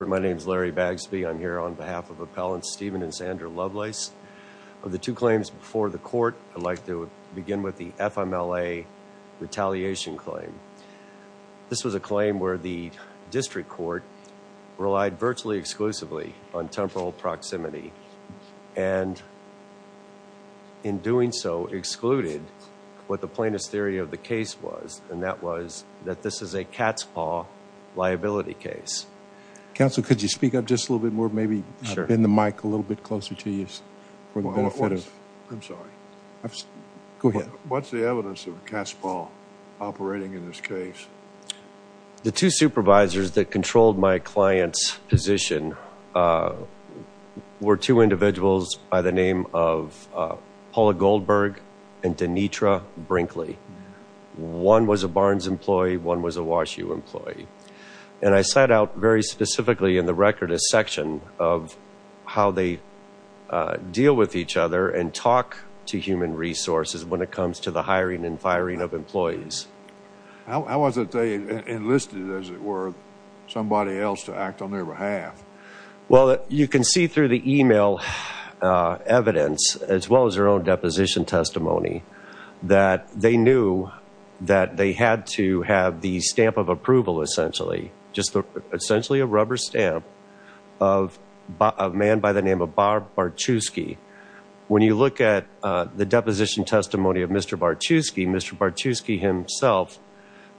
My name is Larry Bagsby. I'm here on behalf of Appellants Stephen and Sandra Lovelace. Of the two claims before the court, I'd like to begin with the FMLA retaliation claim. This was a claim where the district court relied virtually exclusively on temporal proximity and in doing so excluded what the plaintiff's theory of the case was, and that was that this is a cat's paw liability case. Counsel, could you speak up just a little bit more, maybe bend the mic a little bit closer to you? I'm sorry. Go ahead. What's the evidence of a cat's paw operating in this case? The two supervisors that controlled my client's position were two individuals by the name of Barnes. One was a Barnes employee. One was a Wash U employee. And I set out very specifically in the record a section of how they deal with each other and talk to human resources when it comes to the hiring and firing of employees. How was it they enlisted, as it were, somebody else to act on their behalf? Well, you can see through the email evidence, as well as their own deposition testimony, that they knew that they had to have the stamp of approval, essentially, just essentially a rubber stamp of a man by the name of Bob Bartuski. When you look at the deposition testimony of Mr. Bartuski, Mr. Bartuski himself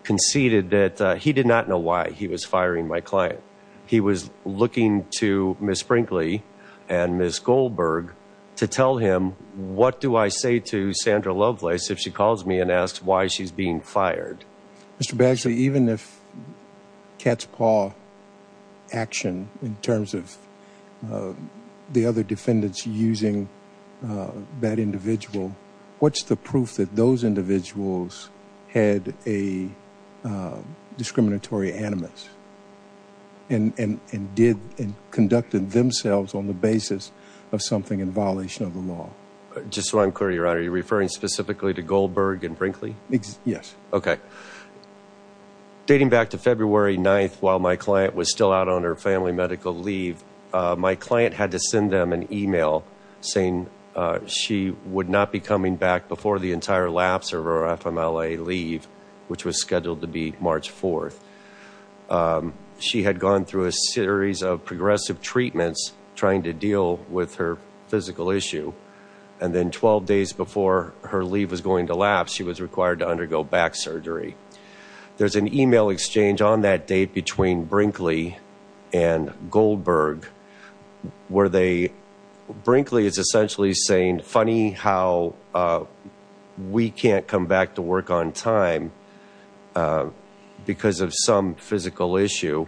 conceded that he did not know why he was firing my client. He was looking to Ms. Sprinkley and Ms. Goldberg to tell him, what do I say to Sandra Lovelace if she calls me and asks why she's being fired? Mr. Badgley, even if cat's paw action in terms of the other defendants using that individual, what's the proof that those individuals had a discriminatory animus and conducted themselves on the basis of something in violation of the law? Just so I'm clear, Your Honor, you're referring specifically to Goldberg and Sprinkley? Yes. Okay. Dating back to February 9th, while my client was still out on her family medical leave, my client had to send them an email saying she would not be coming back before the entire lapse of her FMLA leave, which was scheduled to be March 4th. She had gone through a series of progressive treatments trying to deal with her physical issue, and then 12 days before her leave was going to lapse, she was required to undergo back surgery. There's an email exchange on that date between Sprinkley and Goldberg where Sprinkley is on time because of some physical issue.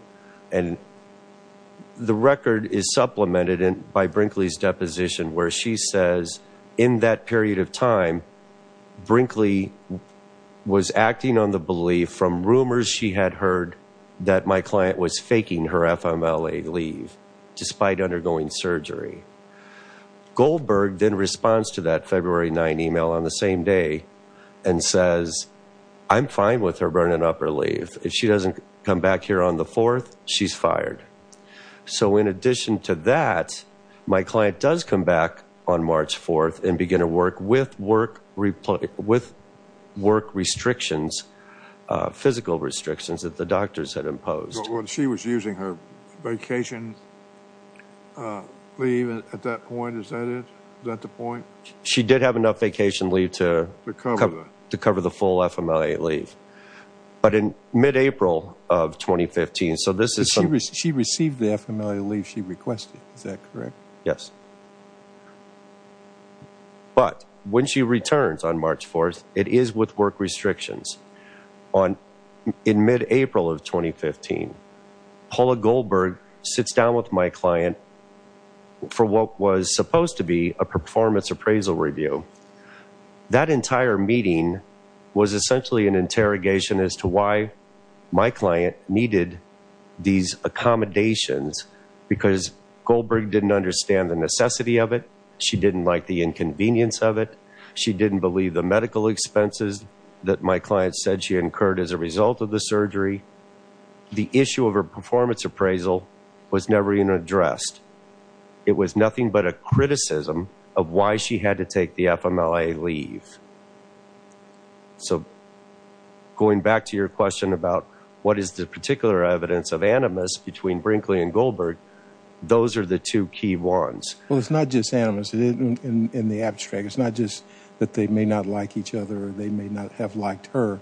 The record is supplemented by Sprinkley's deposition where she says in that period of time, Sprinkley was acting on the belief from rumors she had heard that my client was faking her FMLA leave despite undergoing surgery. Goldberg then responds to that email on the same day and says, I'm fine with her burning up her leave. If she doesn't come back here on the 4th, she's fired. In addition to that, my client does come back on March 4th and begin to work with work restrictions, physical restrictions that the doctors had imposed. When she was using her vacation leave at that point, is that the point? She did have enough vacation leave to cover the full FMLA leave. But in mid-April of 2015, so this is... She received the FMLA leave she requested, is that correct? Yes. But when she returns on March 4th, it is with work restrictions. In mid-April of 2015, Paula Goldberg sits down with my client for what was supposed to be a performance appraisal review. That entire meeting was essentially an interrogation as to why my client needed these accommodations because Goldberg didn't understand the necessity of it. She didn't like the inconvenience of it. She didn't believe the medical expenses that my client said she incurred as a result of the surgery. The issue of her performance appraisal was never even addressed. It was nothing but a criticism of why she had to take the FMLA leave. So going back to your question about what is the particular evidence of animus between Brinkley and Goldberg, those are the two key ones. Well, it's not just animus in the abstract. It's not just that they may not like each other or they may not have liked her,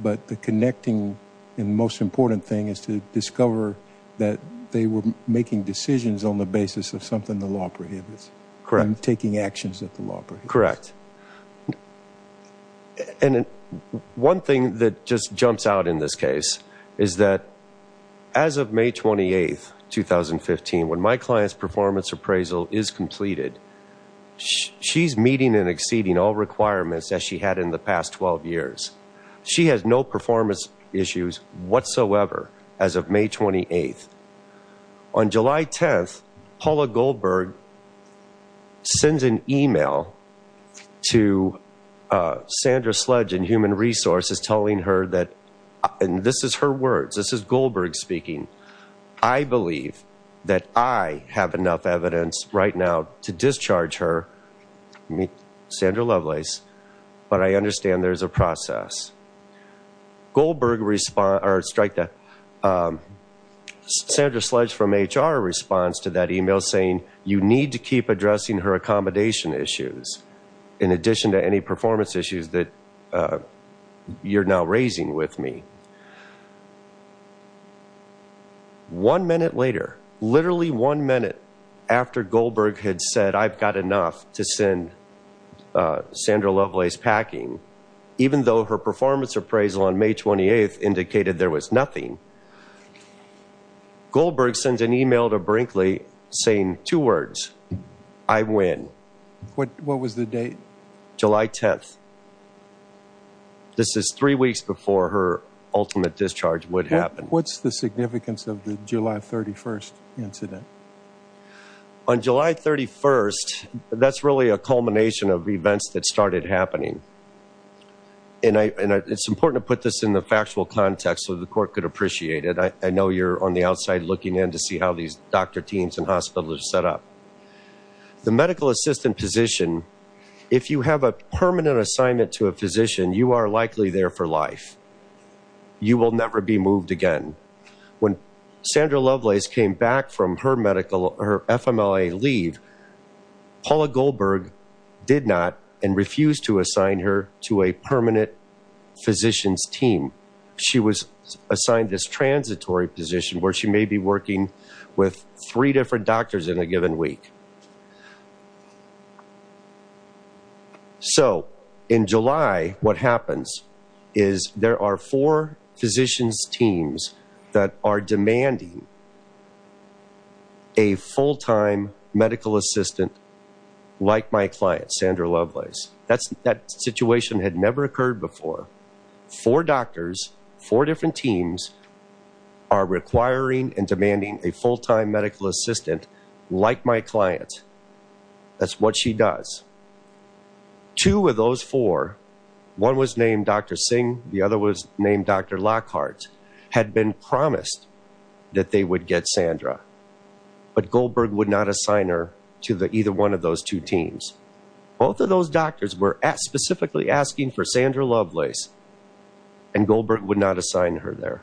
but the connecting and most important thing is to discover that they were making decisions on the basis of something the law prohibits and taking actions that the law prohibits. Correct. And one thing that just jumps out in this case is that as of May 28th, 2015, when my client's performance appraisal is completed, she's meeting and exceeding all requirements as she had in the past 12 years. She has no performance issues whatsoever as of May 28th. On July 10th, Paula Goldberg sends an email to Sandra Sledge and Human Resources telling her and this is her words, this is Goldberg speaking, I believe that I have enough evidence right now to discharge her, Sandra Lovelace, but I understand there's a process. Sandra Sledge from HR responds to that email saying, you need to keep addressing her accommodation issues in addition to any performance issues that you're now raising with me. One minute later, literally one minute after Goldberg had said I've got enough to send Sandra Lovelace packing, even though her performance appraisal on May 28th indicated there was nothing, Goldberg sends an email to Brinkley saying two words, I win. What was the date? July 10th. This is three weeks before her ultimate discharge would happen. What's the significance of the July 31st incident? On July 31st, that's really a culmination of events that started happening. And it's important to put this in the factual context so the court could appreciate it. I know you're on the outside looking in to see how these doctor teams and hospitals are set up. The medical assistant position, if you have a permanent assignment to a physician, you are likely there for life. You will never be moved again. When Sandra Lovelace came back from her FMLA leave, Paula Goldberg did not and refused to assign her to a permanent physician's team. She was assigned this transitory position where she may be working with three different doctors in a given week. So in July, what happens is there are four physician's teams that are demanding a full-time medical assistant like my client, Sandra Lovelace. That situation had never occurred before. Four doctors, four different teams are requiring and demanding a full-time medical assistant like my client. That's what she does. Two of those four, one was named Dr. Singh, the other was named Dr. Lockhart, had been promised that they would get Sandra. But Goldberg would not assign her to either one of those two teams. Both of those doctors were specifically asking for Sandra Lovelace and Goldberg would not assign her there.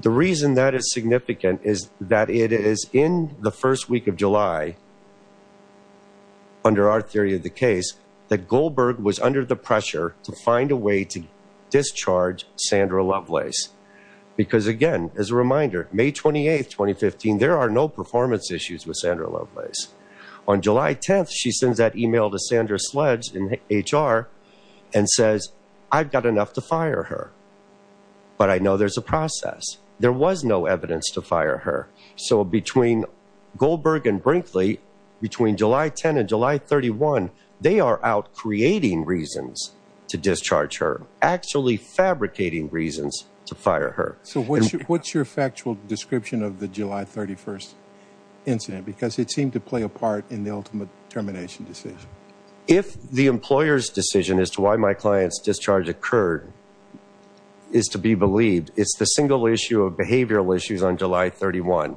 The reason that is significant is that it is in the first week of July, under our theory of the case, that Goldberg was under the pressure to find a way to discharge Sandra Lovelace. Because again, as a reminder, May 28, 2015, there are no performance issues with Sandra Lovelace. On July 10th, she sends that email to Sandra Sledge in HR and says, I've got enough to fire her. But I know there's a process. There was no evidence to fire her. So between Goldberg and Brinkley, between July 10 and July 31, they are out creating reasons to discharge her, actually fabricating reasons to fire her. So what's your factual description of the July 31st incident? Because it seemed to play a part in the ultimate termination decision. If the employer's decision as to why my client's discharge occurred is to be believed, it's the single issue of behavioral issues on July 31,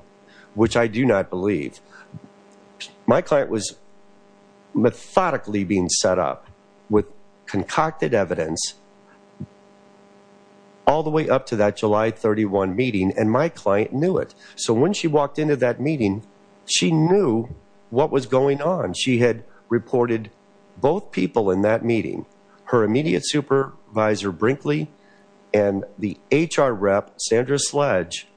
which I do not believe. My client was methodically being set up with concocted evidence all the way up to that July 31 meeting, and my client knew it. So when she walked into that meeting, she knew what was going on. She had reported both people in that meeting, her immediate supervisor Brinkley and the HR rep, Sandra Sledge,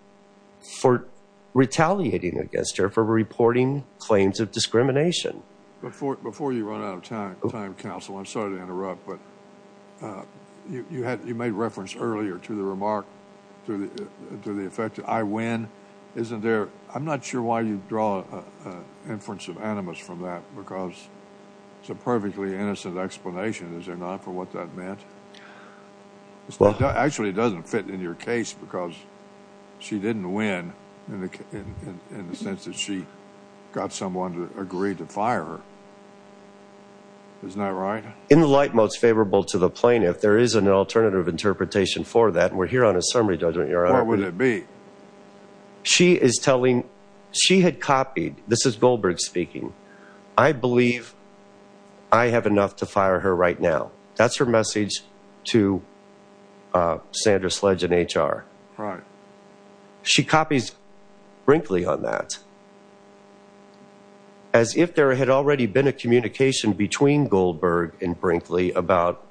for retaliating against her for reporting claims of discrimination. Before you run out of time, counsel, I'm sorry to interrupt, but you made reference earlier to the remark to the effect that I win. I'm not sure why you draw an inference of animus from that, because it's a perfectly innocent explanation. Is there not, for what that meant? Actually, it doesn't fit in your case, because she didn't win in the sense that she got someone to agree to fire her. Isn't that right? In the light most favorable to the plaintiff, there is an alternative interpretation for that, and we're here on a summary judgment. What would it be? She is telling, she had copied, this is Goldberg speaking, I believe I have enough to fire her right now. That's her message to Sandra Sledge and HR. She copies Brinkley on that. As if there had already been a communication between Goldberg and Brinkley about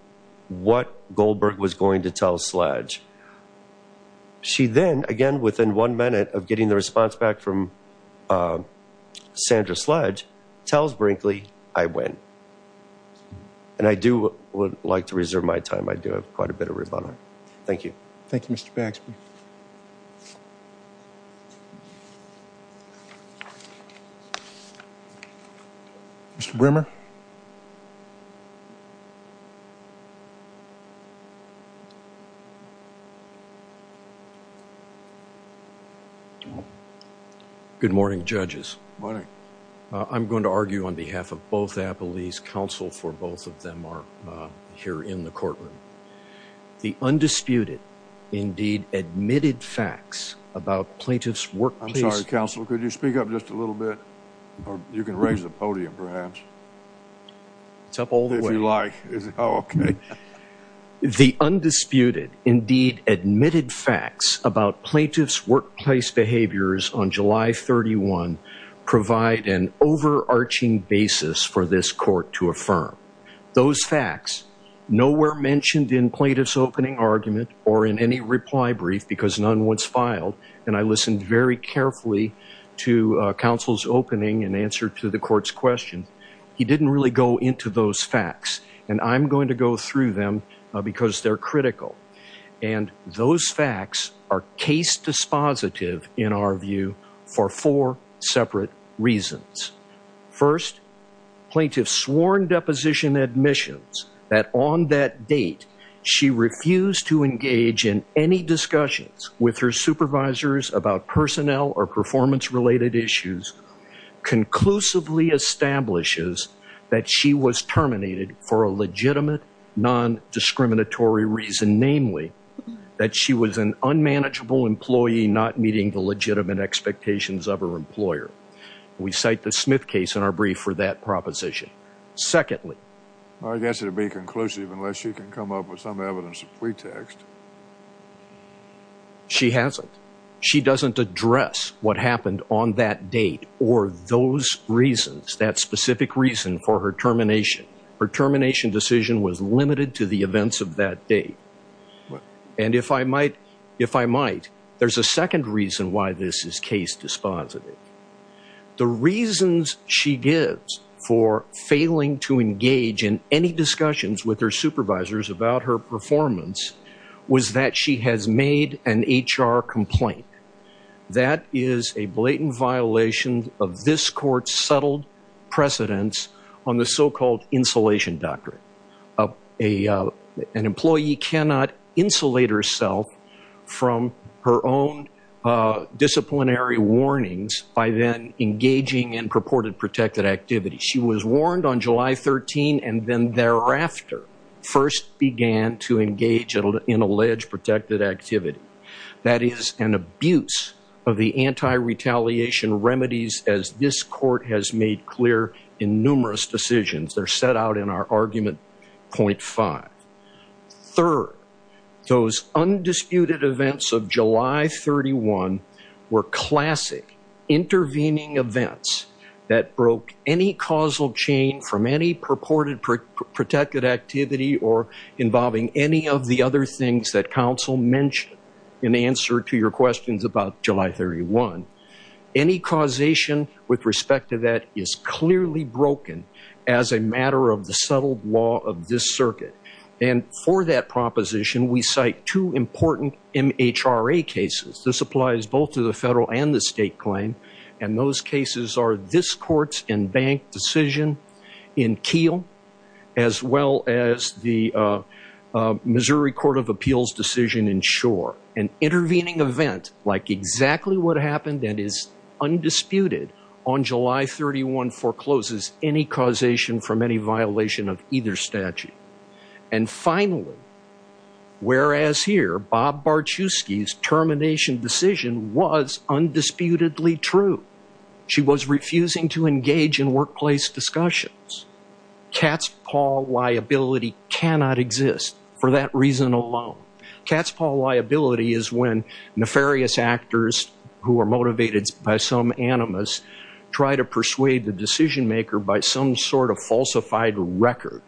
what Goldberg was going to tell Sledge. She then, again, within one minute of getting the response back from Sandra Sledge, tells Brinkley, I win. And I do would like to reserve my time. I do have quite a bit of rebuttal. Thank you. Thank you, Mr. Baxby. Mr. Brimmer. Good morning, judges. Morning. I'm going to argue on behalf of both Appellees, counsel for both of them are here in the courtroom. The undisputed, indeed admitted facts about plaintiff's workplace. I'm sorry, counsel, could you speak up just a little bit? You can raise the podium perhaps. It's up all the way. If you like. The undisputed, indeed admitted facts about plaintiff's workplace behaviors on July 31, provide an overarching basis for this court to affirm. Those facts, nowhere mentioned in plaintiff's opening argument or in any reply brief because none was filed. And I listened very carefully to counsel's opening and answer to the court's questions. He didn't really go into those facts. And I'm going to go through them because they're critical. And those facts are case dispositive in our view for four separate reasons. First, plaintiff sworn deposition admissions that on that date, she refused to engage in any discussions with her supervisors about personnel or performance related issues, conclusively establishes that she was terminated for a legitimate non-discriminatory reason, namely that she was an unmanageable employee, not meeting the legitimate expectations of her employer. We cite the Smith case in our brief for that proposition. Secondly, I guess it'd be conclusive unless you can come up with some address what happened on that date or those reasons, that specific reason for her termination. Her termination decision was limited to the events of that date. And if I might, there's a second reason why this is case dispositive. The reasons she gives for failing to engage in any discussions with her supervisors about her performance was that she has made an HR complaint. That is a blatant violation of this court's settled precedence on the so-called insulation doctrine. An employee cannot insulate herself from her own disciplinary warnings by then first began to engage in alleged protected activity. That is an abuse of the anti-retaliation remedies as this court has made clear in numerous decisions. They're set out in our argument point five. Third, those undisputed events of July 31 were classic intervening events that broke any causal chain from any purported protected activity or involving any of the other things that counsel mentioned in answer to your questions about July 31. Any causation with respect to that is clearly broken as a matter of the settled law of this circuit. And for that proposition, we cite two important MHRA cases. This applies both to the federal and the state claim. And those cases are this court's in-bank decision in Keele as well as the Missouri Court of Appeals decision in Shore. An intervening event like exactly what happened that is undisputed on July 31 forecloses any causation from any violation of either statute. And finally, whereas here Bob Barczewski's termination decision was undisputedly true. She was refusing to engage in workplace discussions. Cat's paw liability cannot exist for that reason alone. Cat's paw liability is when nefarious actors who are motivated by some animus try to persuade the decision maker by some sort of falsified record,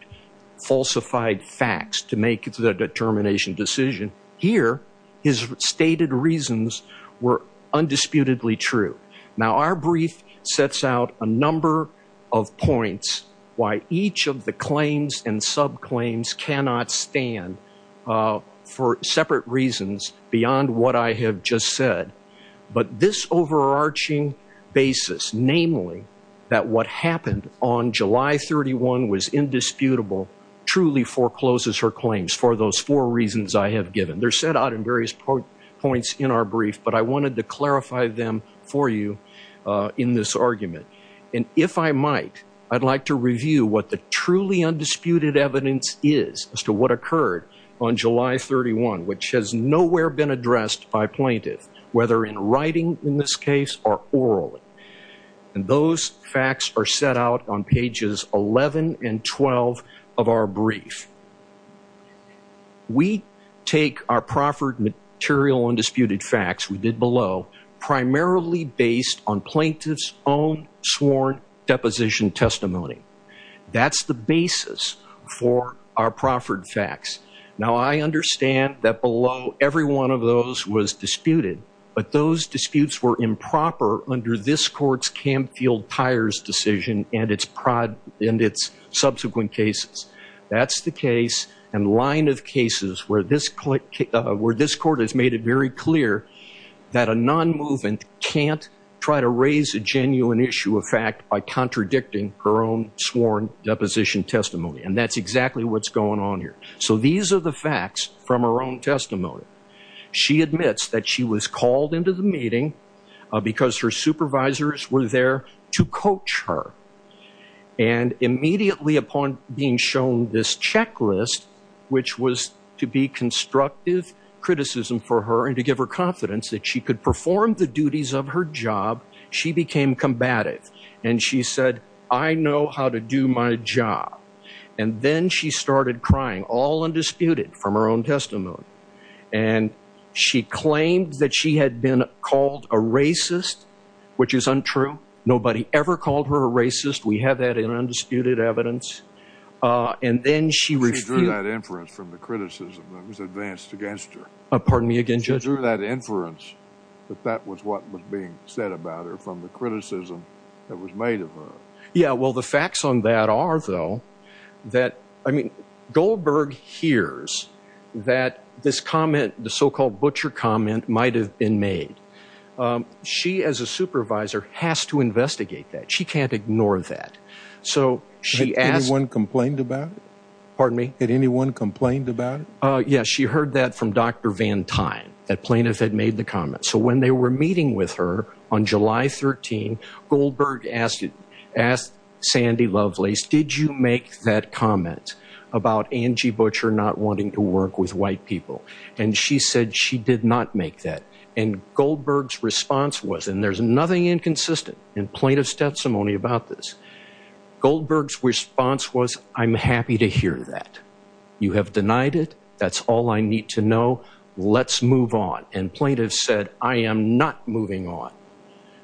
falsified facts to make the determination decision. Here, his stated reasons were undisputedly true. Now, our brief sets out a number of points why each of the claims and subclaims cannot stand for separate reasons beyond what I have just said. But this overarching basis, namely, that what happened on July 31 was indisputable, truly forecloses her claims for those four reasons I have given. They're set out in various points in our brief, but I wanted to clarify them for you in this argument. And if I might, I'd like to review what the truly undisputed evidence is as to what occurred on July 31, which has nowhere been addressed by plaintiffs, whether in writing in this case or orally. And those facts are set out on pages 11 and 12 of our brief. We take our proffered material undisputed facts we did below primarily based on plaintiffs' own sworn deposition testimony. That's the basis for our proffered facts. Now, I understand that below every one of those was disputed, but those disputes were improper under this court's Camfield-Tyers decision and its subsequent cases. That's the case and line of cases where this court has made it very clear that a non-movement can't try to raise a genuine issue of fact by contradicting her own sworn deposition testimony. And that's exactly what's going on here. So these are the facts from her own testimony. She admits that she was called into the meeting because her supervisors were there to coach her. And immediately upon being shown this checklist, which was to be constructive criticism for her and to give her confidence that she could perform the duties of her job, she became combative and she said, I know how to do my job. And then she started crying, all undisputed from her own testimony. And she claimed that she had been called a racist, which is untrue. Nobody ever called her a racist. We have that in undisputed evidence. And then she withdrew that inference from the criticism that was advanced against her. Pardon me again, Judge? She withdrew that inference that that was what was being said about her from the criticism that was made of her. Yeah, well, the facts on that are, though, that, I mean, Goldberg hears that this comment, the so-called butcher comment, might have been made. She, as a supervisor, has to investigate that. She can't ignore that. So she asked. Anyone complained about it? Pardon me? Did anyone complained about it? Yes. She heard that from Dr. Van Tine, that plaintiff had made the comment. So when they were meeting with her on July 13, Goldberg asked Sandy Lovelace, did you make that comment about Angie Butcher not wanting to work with white people? And she said she did not make that. And Goldberg's response was, and there's nothing inconsistent in plaintiff's testimony about this. Goldberg's response was, I'm happy to hear that. You have denied it. That's all I need to know. Let's move on. And plaintiff said, I am not moving on.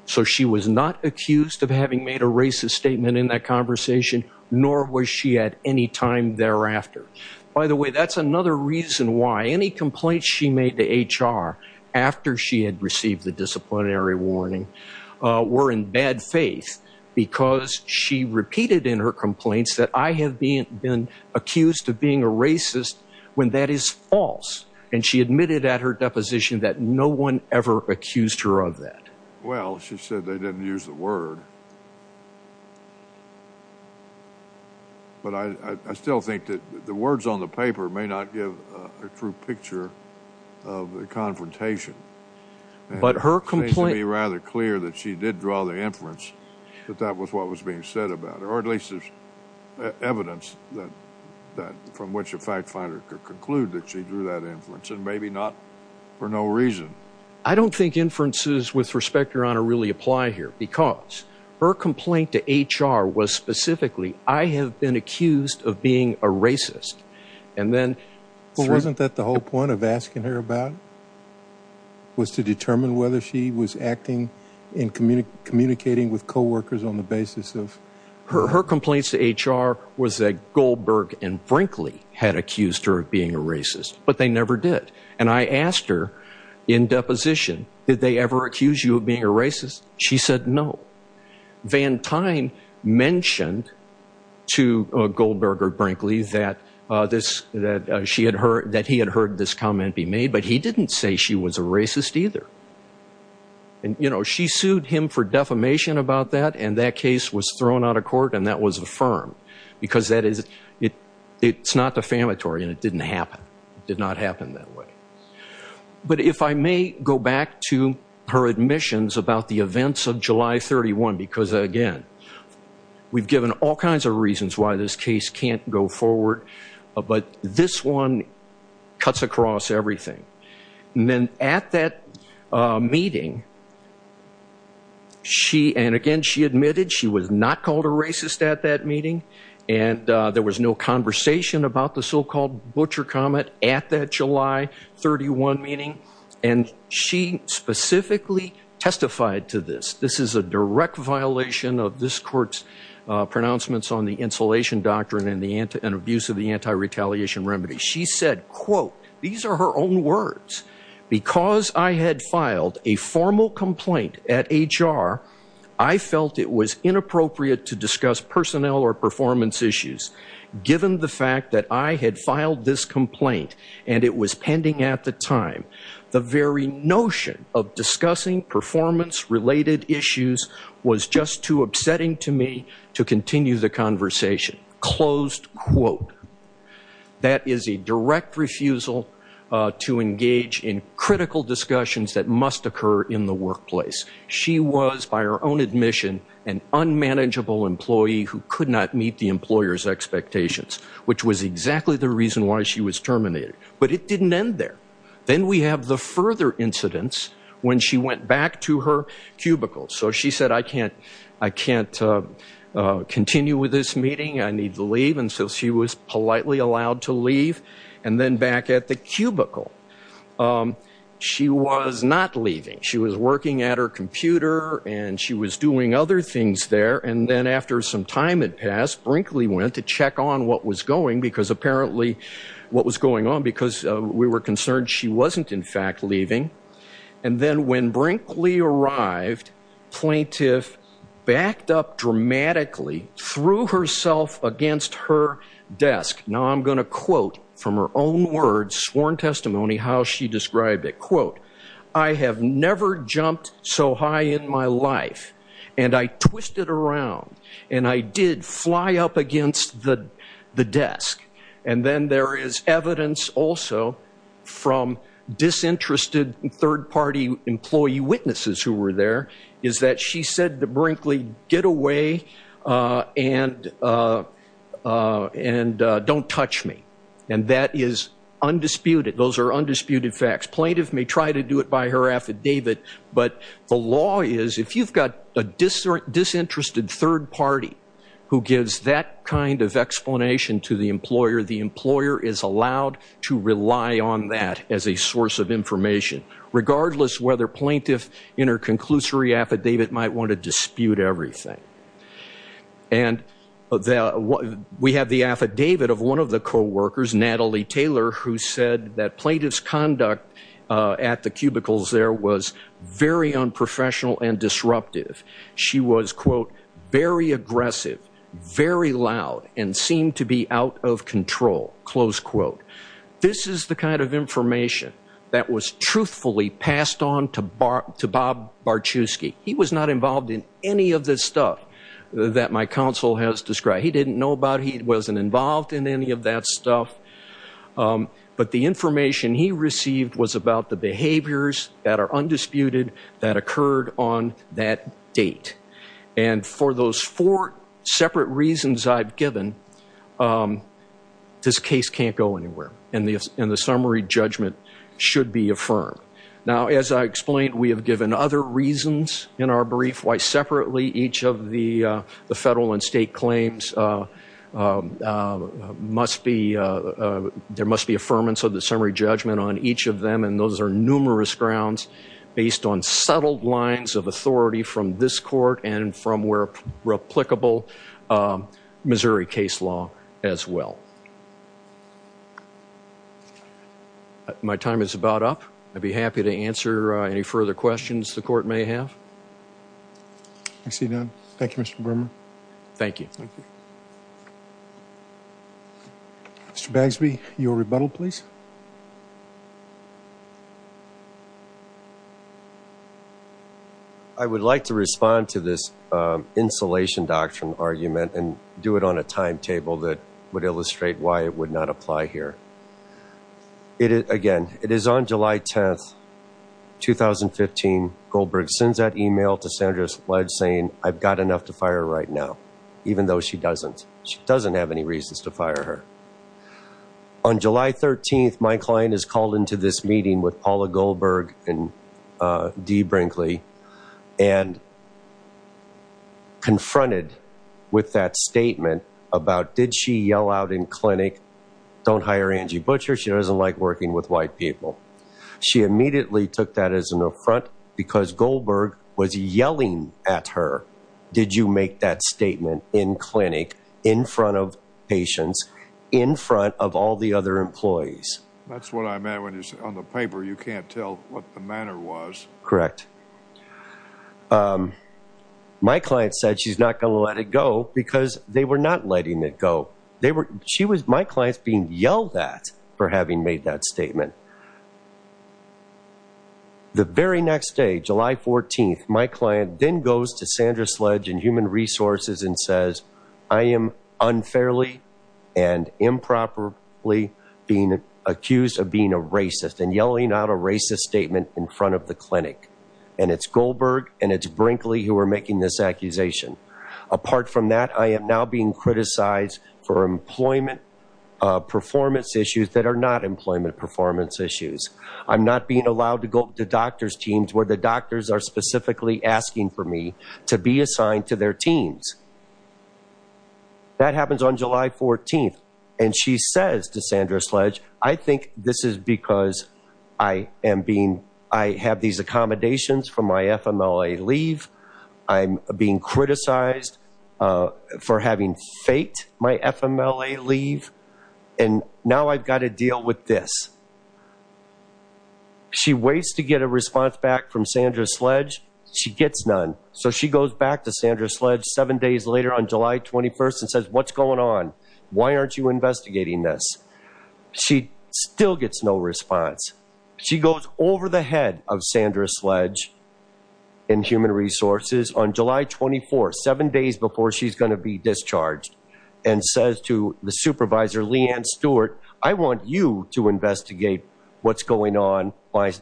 So she was not accused of having made a racist statement in that conversation, nor was she at any time thereafter. By the way, that's another reason why any complaints she made to HR after she had received the disciplinary warning were in bad faith, because she repeated in her complaints that I have been accused of being a racist when that is false. And she admitted at her deposition that no one ever accused her of that. Well, she said they didn't use the word. But I still think that the words on the paper may not give a true picture of the confrontation. But her complaint would be rather clear that she did draw the inference that that was what was being said about her, or at least there's evidence that that from which a fact finder could conclude that she drew that inference and maybe not for no reason. I don't think inferences with respect, Your Honor, really apply here because her complaint to HR was specifically, I have been accused of being a racist. And then. Well, wasn't that the whole point of asking her about? Was to determine whether she was acting in communicating with coworkers on the basis of. Her complaints to HR was that Goldberg and Frankly had accused her of being a racist, but they never did. And I asked her in deposition, did they ever accuse you of being a racist? She said no. Van Tine mentioned to Goldberg or Brinkley that he had heard this comment be made, but he didn't say she was a racist either. And she sued him for defamation about that, and that case was thrown out of court and that was affirmed because it's not defamatory and it did not happen that way. But if I may go back to her admissions about the events of July 31, because again, we've given all kinds of reasons why this case can't go forward, but this one cuts across everything. And then at that meeting, she and again, she admitted she was not called a racist at that meeting. And there was no conversation about the so-called butcher comment at that July 31 meeting. And she specifically testified to this. This is a direct violation of this court's pronouncements on the insulation doctrine and abuse of the anti-retaliation remedy. She said, quote, these are her own words. Because I had filed a formal complaint at HR, I felt it was inappropriate to discuss personnel or performance issues given the fact that I had filed this complaint and it was pending at the time. The very notion of discussing performance related issues was just too upsetting to me to continue the conversation. Closed quote. That is a direct refusal to engage in critical discussions that must occur in the workplace. She was, by her own admission, an unmanageable employee who could not meet the employer's expectations, which was exactly the reason why she was terminated. But it didn't end there. Then we have the further incidents when she went back to her cubicle. So she said, I can't continue with this meeting. I need to leave. And so she was politely allowed to leave. And then back at the cubicle. She was not leaving. She was working at her computer and she was doing other things there. And then after some time had passed, Brinkley went to check on what was going because apparently what was going on because we were concerned she wasn't, in fact, leaving. And then when Brinkley arrived, plaintiff backed up dramatically, threw herself against her desk. Now I'm going to quote from her own words, sworn testimony, how she described it. Quote, I have never jumped so high in my life and I twisted around and I did fly up against the desk. And then there is evidence also from disinterested third party employee witnesses who were there is that she said to Brinkley, get away and don't touch me. And that is undisputed. Those are undisputed facts. Plaintiff may try to do it by her affidavit, but the law is if you've got a disinterested third party who gives that kind of explanation to the employer, the employer is allowed to rely on that as a source of information, regardless whether plaintiff in her conclusory affidavit might want to dispute everything. And we have the affidavit of one of the coworkers, Natalie Taylor, who said that plaintiff's conduct at the cubicles there was very unprofessional and disruptive. She was, quote, very aggressive, very loud and seemed to be out of control. Close quote. This is the kind of information that was truthfully passed on to Bob Barczewski. He was not involved in any of this stuff that my counsel has described. He didn't know about it. He wasn't involved in any of that stuff. But the information he received was about the behaviors that are undisputed that occurred on that date. And for those four separate reasons I've given, this case can't go anywhere. And the summary judgment should be affirmed. Now, as I explained, we have given other reasons in our brief why separately each of the federal and state claims must be, there must be affirmance of the summary judgment on each of them. And those are numerous grounds based on settled lines of authority from this court and from where replicable Missouri case law as well. My time is about up. I'd be happy to answer any further questions the court may have. I see none. Thank you, Mr. Brimmer. Thank you. Mr. Bagsby, your rebuttal, please. I would like to respond to this insulation doctrine argument and do it on a timetable that would illustrate why it would not apply here. Again, it is on July 10th, 2015, Goldberg sends that email to Sandra Sledge saying, I've got enough to fire right now, even though she doesn't. She doesn't have any reasons to fire her. On July 13th, my client is called into this meeting with Paula Goldberg and Dee Brinkley and confronted with that statement about did she yell out in clinic, don't hire Angie Butcher. She doesn't like working with white people. She immediately took that as an affront because Goldberg was yelling at her. Did you make that statement in clinic, in front of patients, in front of all the other employees? That's what I meant when you said on the paper, you can't tell what the manner was. Correct. My client said she's not going to let it go because they were not letting it go. They were, she was, my clients being yelled at for having made that statement. The very next day, July 14th, my client then goes to Sandra Sledge and human resources and says, I am unfairly and improperly being accused of being a racist and yelling out a racist statement in front of the clinic. And it's Goldberg and it's Brinkley who are making this accusation. Apart from that, I am now being criticized for employment performance issues that are not employment performance issues. I'm not being allowed to go to doctor's teams where the doctors are specifically asking for me to be assigned to their teams. That happens on July 14th and she says to Sandra Sledge, I think this is because I am being, I have these accommodations from my FMLA leave. I'm being criticized for having faked my FMLA leave. And now I've got to deal with this. She waits to get a response back from Sandra Sledge. She gets none. So she goes back to Sandra Sledge seven days later on July 21st and says, what's going on? Why aren't you investigating this? She still gets no response. She goes over the head of Sandra Sledge and human resources on July 24th, seven days before she's going to be discharged and says to the supervisor, Leanne Stewart, I want you to investigate what's going on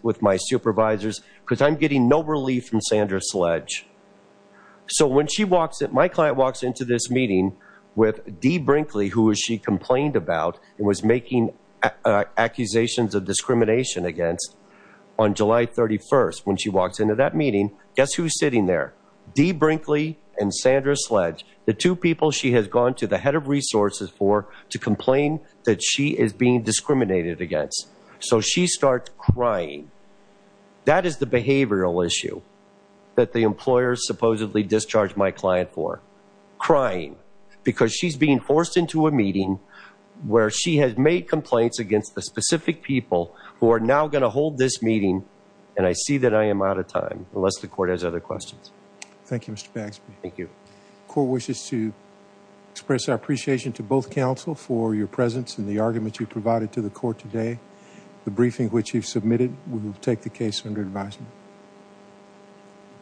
with my supervisors because I'm getting no relief from Sandra Sledge. So when she walks in, my client walks into this meeting, Dee Brinkley, who she complained about and was making accusations of discrimination against on July 31st, when she walks into that meeting, guess who's sitting there? Dee Brinkley and Sandra Sledge, the two people she has gone to the head of resources for to complain that she is being discriminated against. So she starts crying. That is the behavioral issue that the employer supposedly discharged my client for, crying because she's being forced into a meeting where she has made complaints against the specific people who are now going to hold this meeting. And I see that I am out of time unless the court has other questions. Thank you, Mr. Baxby. Thank you. Court wishes to express our appreciation to both counsel for your presence and the argument you provided to the court today. The briefing which you've submitted, we will take the case under advisement.